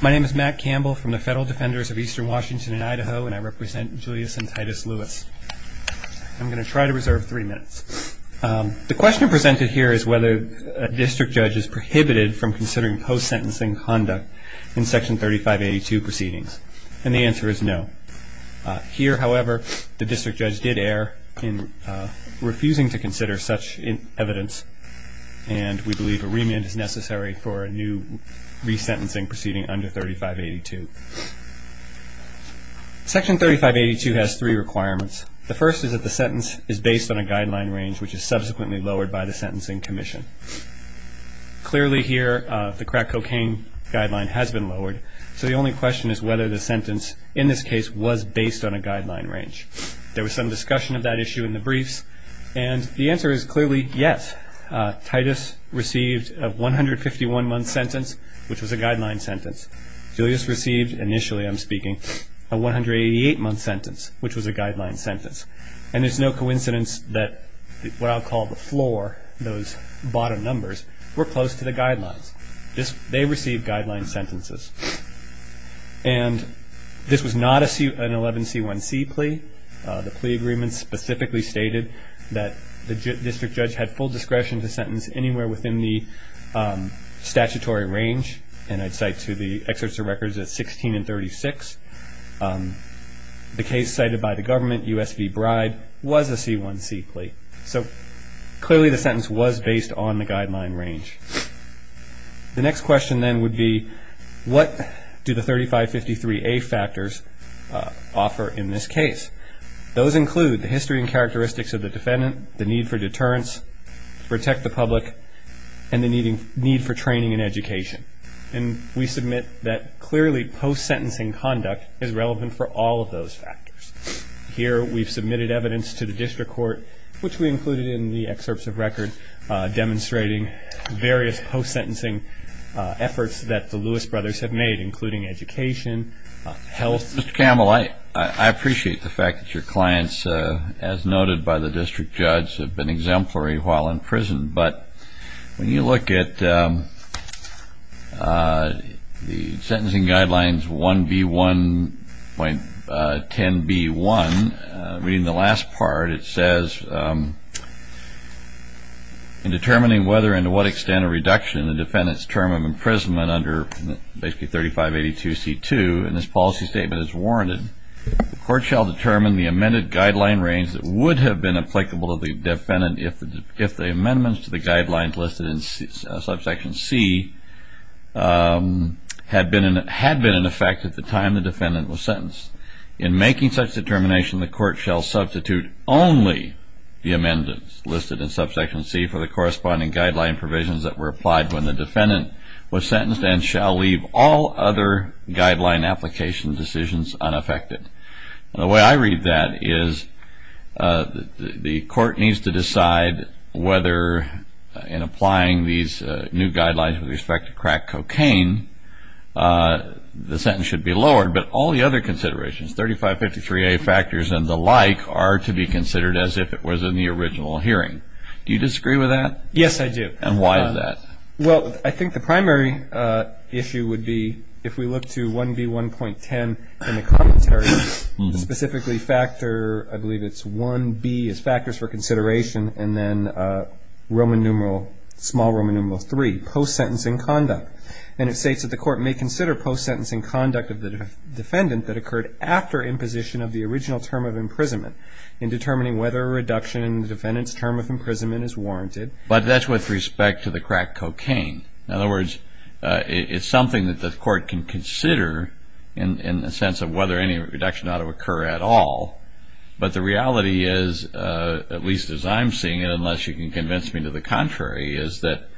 My name is Matt Campbell from the Federal Defenders of Eastern Washington and Idaho, and I represent Julius and Titus Lewis. I'm going to try to reserve three minutes. The question presented here is whether a district judge is prohibited from considering post-sentencing conduct in Section 3582 proceedings, and the answer is no. Here, however, the district judge did err in refusing to consider such evidence, and we believe a remand is necessary for a new resentencing proceeding under 3582. Section 3582 has three requirements. The first is that the sentence is based on a guideline range, which is subsequently lowered by the Sentencing Commission. Clearly here, the crack cocaine guideline has been lowered, so the only question is whether the sentence in this case was based on a guideline range. There was some discussion of that issue in the briefs, and the answer is clearly yes. Titus received a 151-month sentence, which was a guideline sentence. Julius received, initially I'm speaking, a 188-month sentence, which was a guideline sentence. And it's no coincidence that what I'll call the floor, those bottom numbers, were close to the guidelines. They received guideline sentences. And this was not an 11C1C plea. The plea agreement specifically stated that the district judge had full discretion to sentence anywhere within the statutory range, and I'd cite to the excerpts of records as 16 and 36. The case cited by the government, U.S. v. Bride, was a C1C plea. So clearly the sentence was based on the guideline range. The next question then would be, what do the 3553A factors offer in this case? Those include the history and characteristics of the defendant, the need for deterrence, protect the public, and the need for training and education. And we submit that clearly post-sentencing conduct is relevant for all of those factors. Here we've submitted evidence to the district court, which we included in the excerpts of records demonstrating various post-sentencing efforts that the Lewis brothers have made, including education, health. Mr. Campbell, I appreciate the fact that your clients, as noted by the district judge, have been exemplary while in prison. But when you look at the sentencing guidelines 1B1.10B1, reading the last part, it says, in determining whether and to what extent a reduction in the defendant's term of imprisonment under basically 3582C2, and this policy statement is warranted, the court shall determine the amended guideline range that would have been applicable to the defendant if the amendments to the guidelines listed in subsection C had been in effect at the time the defendant was sentenced. In making such determination, the court shall substitute only the amendments listed in subsection C for the corresponding guideline provisions that were applied when the defendant was sentenced and shall leave all other guideline application decisions unaffected. The way I read that is the court needs to decide whether in applying these new guidelines with respect to crack cocaine, the sentence should be lowered, but all the other considerations, 3553A, factors and the like, are to be considered as if it was in the original hearing. Do you disagree with that? Yes, I do. And why is that? Well, I think the primary issue would be if we look to 1B1.10 in the commentary, specifically factor, I believe it's 1B is factors for consideration, and then Roman numeral, small Roman numeral 3, post-sentencing conduct. And it states that the court may consider post-sentencing conduct of the defendant that occurred after imposition of the original term of imprisonment in determining whether a reduction in the defendant's term of imprisonment is warranted. But that's with respect to the crack cocaine. In other words, it's something that the court can consider in the sense of whether any reduction ought to occur at all. But the reality is, at least as I'm seeing it, unless you can convince me to the contrary, is that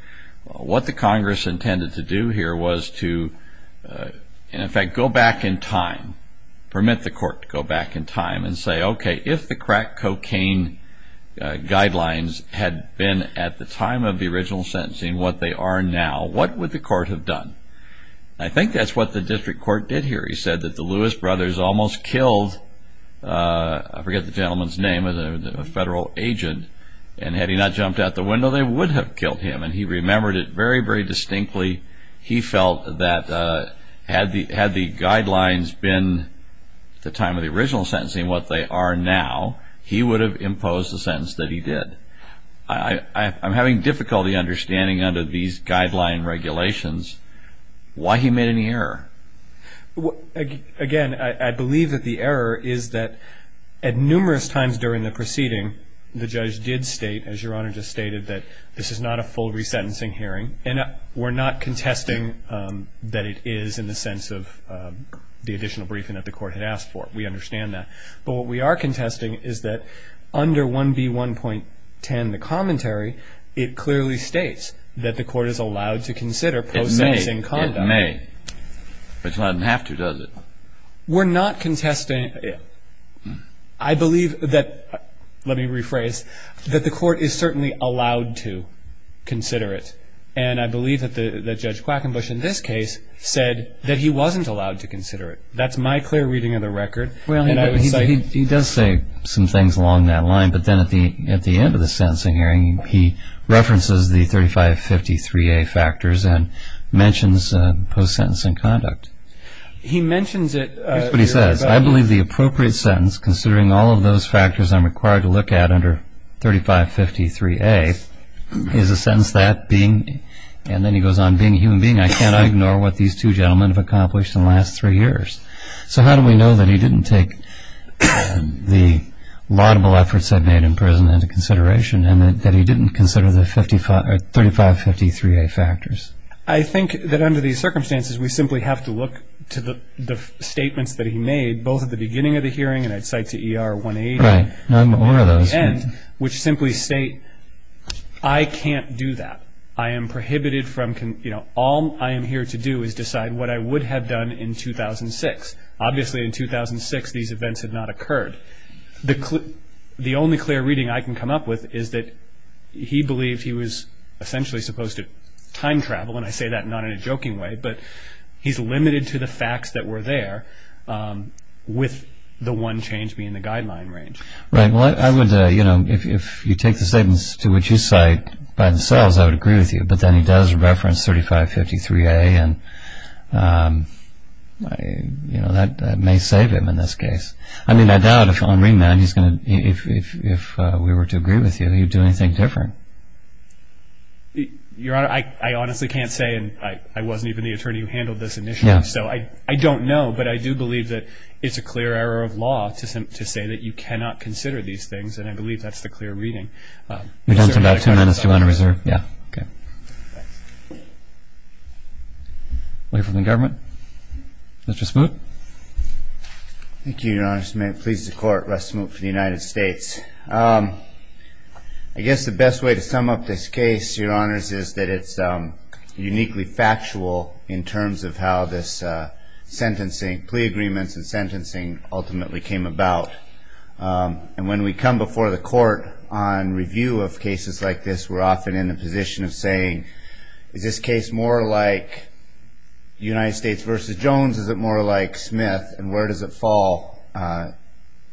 what the Congress intended to do here was to, in effect, go back in time, permit the court to go back in time and say, okay, if the crack cocaine guidelines had been at the time of the original sentencing what they are now, what would the court have done? I think that's what the district court did here. He said that the Lewis brothers almost killed, I forget the gentleman's name, a federal agent, and had he not jumped out the window, they would have killed him. And he remembered it very, very distinctly. He felt that had the guidelines been at the time of the original sentencing what they are now, he would have imposed the sentence that he did. I'm having difficulty understanding under these guideline regulations why he made any error. Again, I believe that the error is that at numerous times during the proceeding the judge did state, as Your Honor just stated, that this is not a full resentencing hearing. And we're not contesting that it is in the sense of the additional briefing that the court had asked for. We understand that. But what we are contesting is that under 1B1.10, the commentary, it clearly states that the court is allowed to consider post-sentencing condom. It may. But it doesn't have to, does it? We're not contesting it. I believe that, let me rephrase, that the court is certainly allowed to consider it. And I believe that Judge Quackenbush in this case said that he wasn't allowed to consider it. That's my clear reading of the record. He does say some things along that line. But then at the end of the sentencing hearing, he references the 3553A factors and mentions post-sentencing conduct. He mentions it. Here's what he says. I believe the appropriate sentence, considering all of those factors I'm required to look at under 3553A, is a sentence that being, and then he goes on, being a human being, I cannot ignore what these two gentlemen have accomplished in the last three years. So how do we know that he didn't take the laudable efforts they've made in prison into consideration and that he didn't consider the 3553A factors? I think that under these circumstances, we simply have to look to the statements that he made both at the beginning of the hearing and I'd cite to ER 180 and at the end, which simply state, I can't do that. I am prohibited from, all I am here to do is decide what I would have done in 2006. Obviously in 2006, these events had not occurred. The only clear reading I can come up with is that he believed he was essentially supposed to time travel, and I say that not in a joking way, but he's limited to the facts that were there with the one change being the guideline range. Right, well, I would, you know, if you take the statements to which you cite by themselves, I would agree with you, but then he does reference 3553A and, you know, that may save him in this case. I mean, I doubt if on remand he's going to, if we were to agree with you, you'd do anything different. Your Honor, I honestly can't say, and I wasn't even the attorney who handled this initially, so I don't know, but I do believe that it's a clear error of law to say that you cannot consider these things, and I believe that's the clear reading. We don't have about two minutes. Do you want to reserve? Yeah. Okay. Away from the government. Mr. Smoot. Thank you, Your Honor. May it please the Court, Russ Smoot for the United States. I guess the best way to sum up this case, Your Honors, is that it's uniquely factual in terms of how this sentencing, plea agreements and sentencing ultimately came about. And when we come before the Court on review of cases like this, we're often in a position of saying, is this case more like United States v. Jones, is it more like Smith, and where does it fall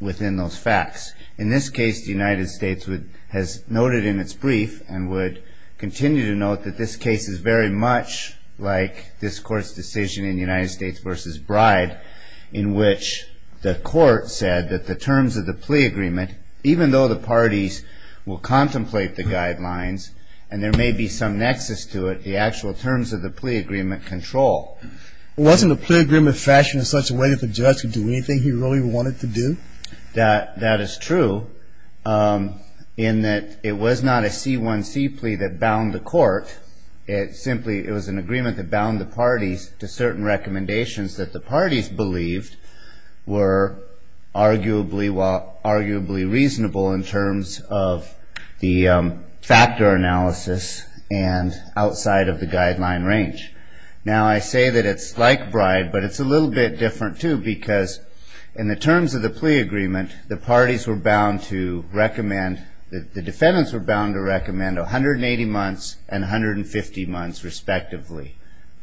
within those facts? In this case, the United States has noted in its brief and would continue to note that this case is very much like this Court's decision in United States v. Bride in which the Court said that the terms of the plea agreement, even though the parties will contemplate the guidelines and there may be some nexus to it, the actual terms of the plea agreement control. Wasn't the plea agreement fashioned in such a way that the judge could do anything he really wanted to do? That is true in that it was not a C1C plea that bound the Court. It simply was an agreement that bound the parties to certain recommendations that the parties believed were arguably reasonable in terms of the factor analysis and outside of the guideline range. Now, I say that it's like Bride, but it's a little bit different too because in the terms of the plea agreement, the parties were bound to recommend, the defendants were bound to recommend 180 months and 150 months respectively.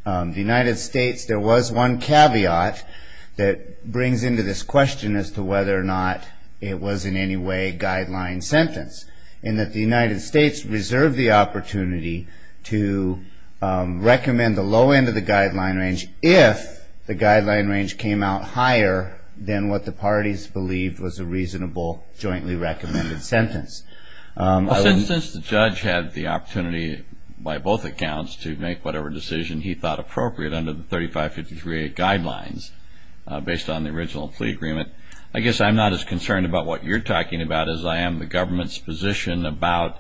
The United States, there was one caveat that brings into this question as to whether or not it was in any way in that the United States reserved the opportunity to recommend the low end of the guideline range if the guideline range came out higher than what the parties believed was a reasonable jointly recommended sentence. Since the judge had the opportunity by both accounts to make whatever decision he thought appropriate under the 3553A guidelines based on the original plea agreement, I guess I'm not as concerned about what you're talking about as I am the government's position about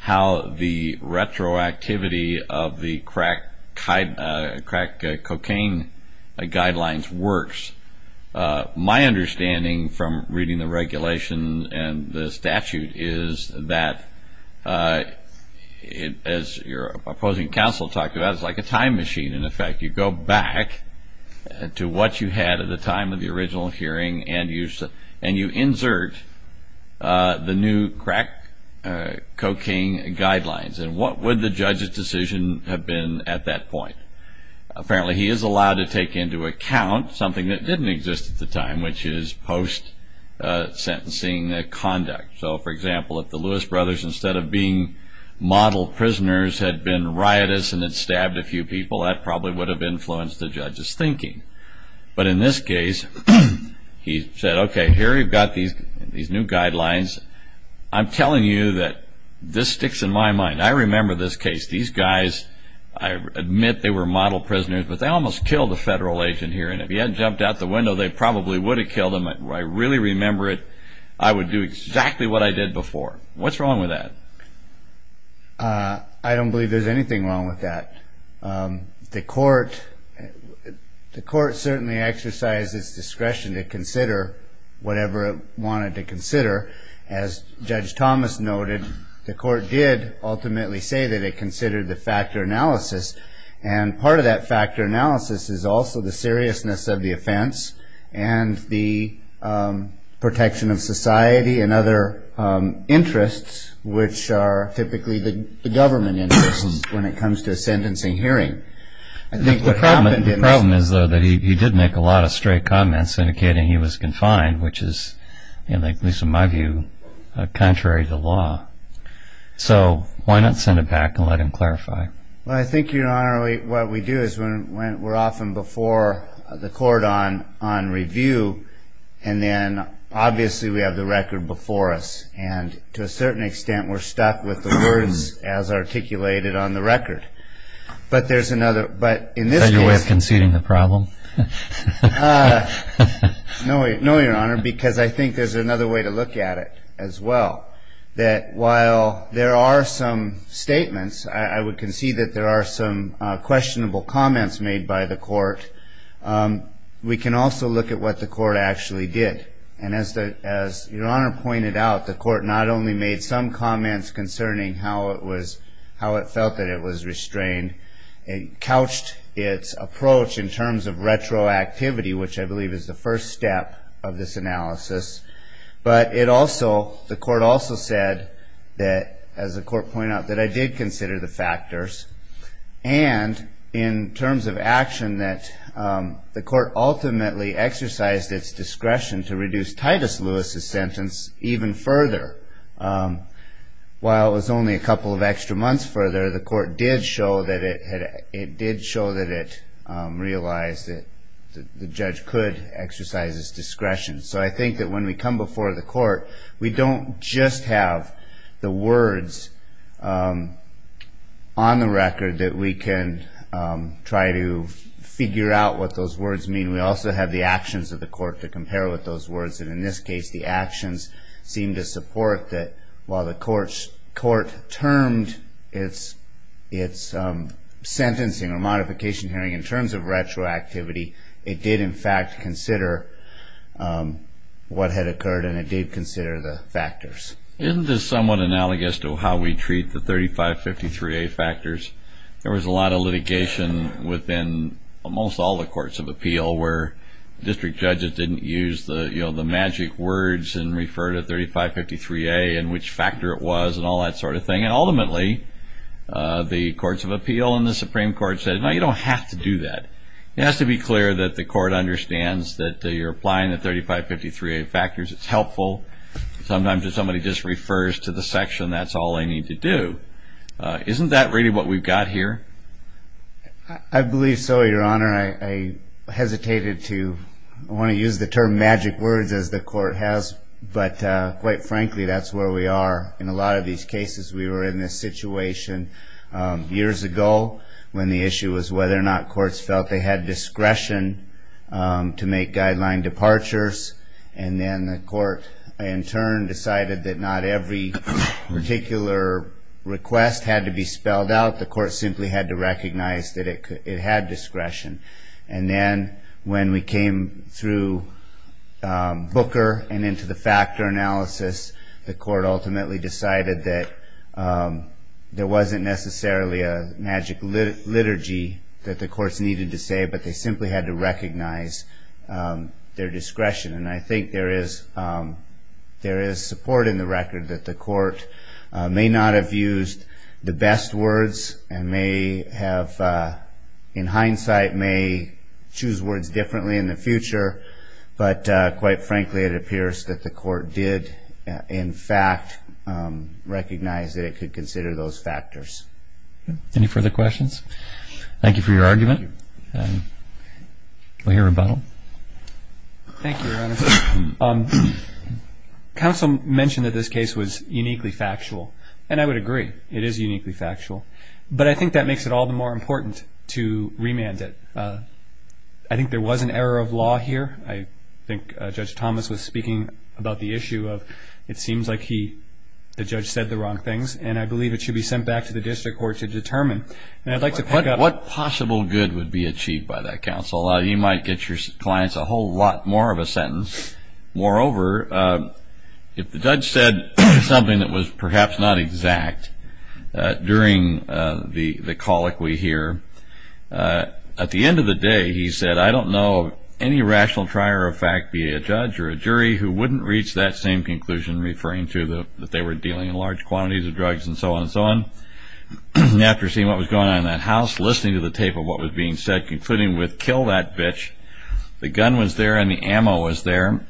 how the retroactivity of the crack cocaine guidelines works. My understanding from reading the regulation and the statute is that as your opposing counsel talked about, it's like a time machine. In effect, you go back to what you had at the time of the original hearing and you insert the new crack cocaine guidelines. And what would the judge's decision have been at that point? Apparently, he is allowed to take into account something that didn't exist at the time, which is post-sentencing conduct. So, for example, if the Lewis brothers instead of being model prisoners had been riotous and had stabbed a few people, that probably would have influenced the judge's thinking. But in this case, he said, okay, here we've got these new guidelines. I'm telling you that this sticks in my mind. I remember this case. These guys, I admit they were model prisoners, but they almost killed a federal agent here. And if he hadn't jumped out the window, they probably would have killed him. I really remember it. I would do exactly what I did before. What's wrong with that? I don't believe there's anything wrong with that. The court certainly exercised its discretion to consider whatever it wanted to consider. As Judge Thomas noted, the court did ultimately say that it considered the factor analysis. And part of that factor analysis is also the seriousness of the offense and the protection of society and other interests, which are typically the government interests when it comes to a sentencing hearing. The problem is, though, that he did make a lot of straight comments indicating he was confined, which is, at least in my view, contrary to law. So why not send it back and let him clarify? Well, I think, Your Honor, what we do is we're often before the court on review, and then obviously we have the record before us. And to a certain extent, we're stuck with the words as articulated on the record. But there's another – but in this case – Is that your way of conceding the problem? No, Your Honor, because I think there's another way to look at it as well. That while there are some statements, I would concede that there are some questionable comments made by the court, we can also look at what the court actually did. And as Your Honor pointed out, the court not only made some comments concerning how it felt that it was restrained, it couched its approach in terms of retroactivity, which I believe is the first step of this analysis. But it also – the court also said that, as the court pointed out, that I did consider the factors. And in terms of action, that the court ultimately exercised its discretion to reduce Titus Lewis's sentence even further. While it was only a couple of extra months further, the court did show that it – it did show that it realized that the judge could exercise its discretion. So I think that when we come before the court, we don't just have the words on the record that we can try to figure out what those words mean. We also have the actions of the court to compare with those words. And in this case, the actions seem to support that while the court termed its – its sentencing or modification hearing in terms of retroactivity, it did in fact consider what had occurred and it did consider the factors. Isn't this somewhat analogous to how we treat the 3553A factors? There was a lot of litigation within almost all the courts of appeal where district judges didn't use the, you know, the magic words and refer to 3553A and which factor it was and all that sort of thing. And ultimately, the courts of appeal and the Supreme Court said, no, you don't have to do that. It has to be clear that the court understands that you're applying the 3553A factors. It's helpful. Sometimes if somebody just refers to the section, that's all they need to do. Isn't that really what we've got here? I believe so, Your Honor. I hesitated to – I want to use the term magic words as the court has, but quite frankly, that's where we are. In a lot of these cases, we were in this situation years ago when the issue was whether or not courts felt they had discretion to make guideline departures, and then the court in turn decided that not every particular request had to be spelled out. The court simply had to recognize that it had discretion. And then when we came through Booker and into the factor analysis, the court ultimately decided that there wasn't necessarily a magic liturgy that the courts needed to say, but they simply had to recognize their discretion. And I think there is support in the record that the court may not have used the best words and may have, in hindsight, may choose words differently in the future, but quite frankly, it appears that the court did, in fact, recognize that it could consider those factors. Any further questions? Thank you for your argument. We'll hear rebuttal. Thank you, Your Honor. Counsel mentioned that this case was uniquely factual, and I would agree. It is uniquely factual. But I think that makes it all the more important to remand it. I think there was an error of law here. I think Judge Thomas was speaking about the issue of it seems like the judge said the wrong things, and I believe it should be sent back to the district court to determine. What possible good would be achieved by that, Counsel? You might get your clients a whole lot more of a sentence. Moreover, if the judge said something that was perhaps not exact during the colloquy here, at the end of the day, he said, I don't know any rational trier of fact, be it a judge or a jury, who wouldn't reach that same conclusion referring to that they were dealing in large quantities of drugs and so on and so on. After seeing what was going on in that house, listening to the tape of what was being said, concluding with, kill that bitch, the gun was there and the ammo was there,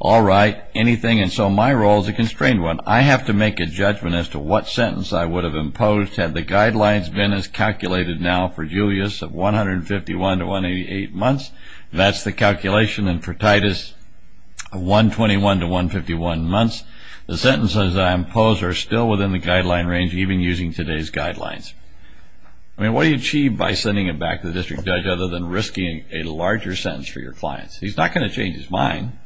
all right, anything, and so my role is a constrained one. I have to make a judgment as to what sentence I would have imposed had the guidelines been as calculated now for Julius of 151 to 188 months. That's the calculation, and for Titus of 121 to 151 months. The sentences I imposed are still within the guideline range, even using today's guidelines. I mean, what do you achieve by sending it back to the district judge other than risking a larger sentence for your clients? He's not going to change his mind.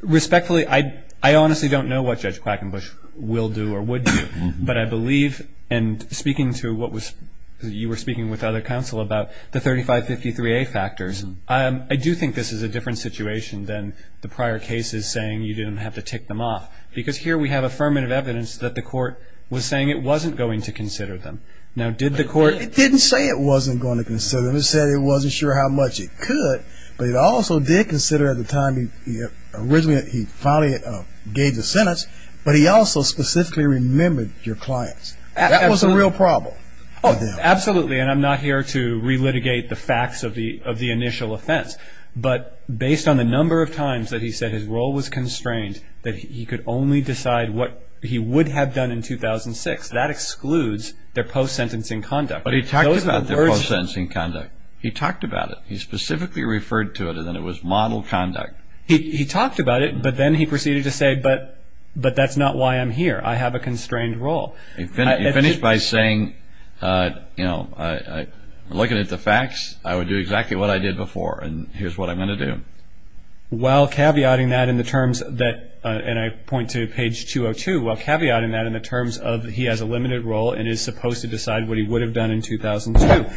Respectfully, I honestly don't know what Judge Quackenbush will do or would do, but I believe, and speaking to what you were speaking with other counsel about, the 3553A factors, I do think this is a different situation than the prior cases saying you didn't have to tick them off because here we have affirmative evidence that the court was saying it wasn't going to consider them. Now, did the court It didn't say it wasn't going to consider them. It said it wasn't sure how much it could, but it also did consider at the time he gave the sentence, but he also specifically remembered your clients. That was a real problem. Oh, absolutely, and I'm not here to relitigate the facts of the initial offense, but based on the number of times that he said his role was constrained, that he could only decide what he would have done in 2006, that excludes their post-sentencing conduct. But he talked about their post-sentencing conduct. He talked about it. He specifically referred to it, and then it was model conduct. He talked about it, but then he proceeded to say, but that's not why I'm here. I have a constrained role. He finished by saying, looking at the facts, I would do exactly what I did before, and here's what I'm going to do. While caveating that in the terms that, and I point to page 202, while caveating that in the terms of he has a limited role and is supposed to decide what he would have done in 2002,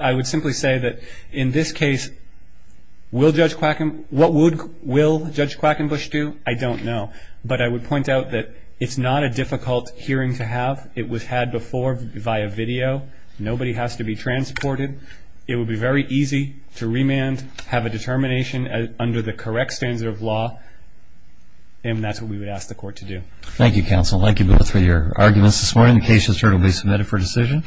I would simply say that in this case, what will Judge Quackenbush do? I don't know. But I would point out that it's not a difficult hearing to have. It was had before via video. Nobody has to be transported. It would be very easy to remand, have a determination under the correct standards of law, and that's what we would ask the court to do. Thank you, counsel. Thank you both for your arguments this morning. The case has been submitted for decision.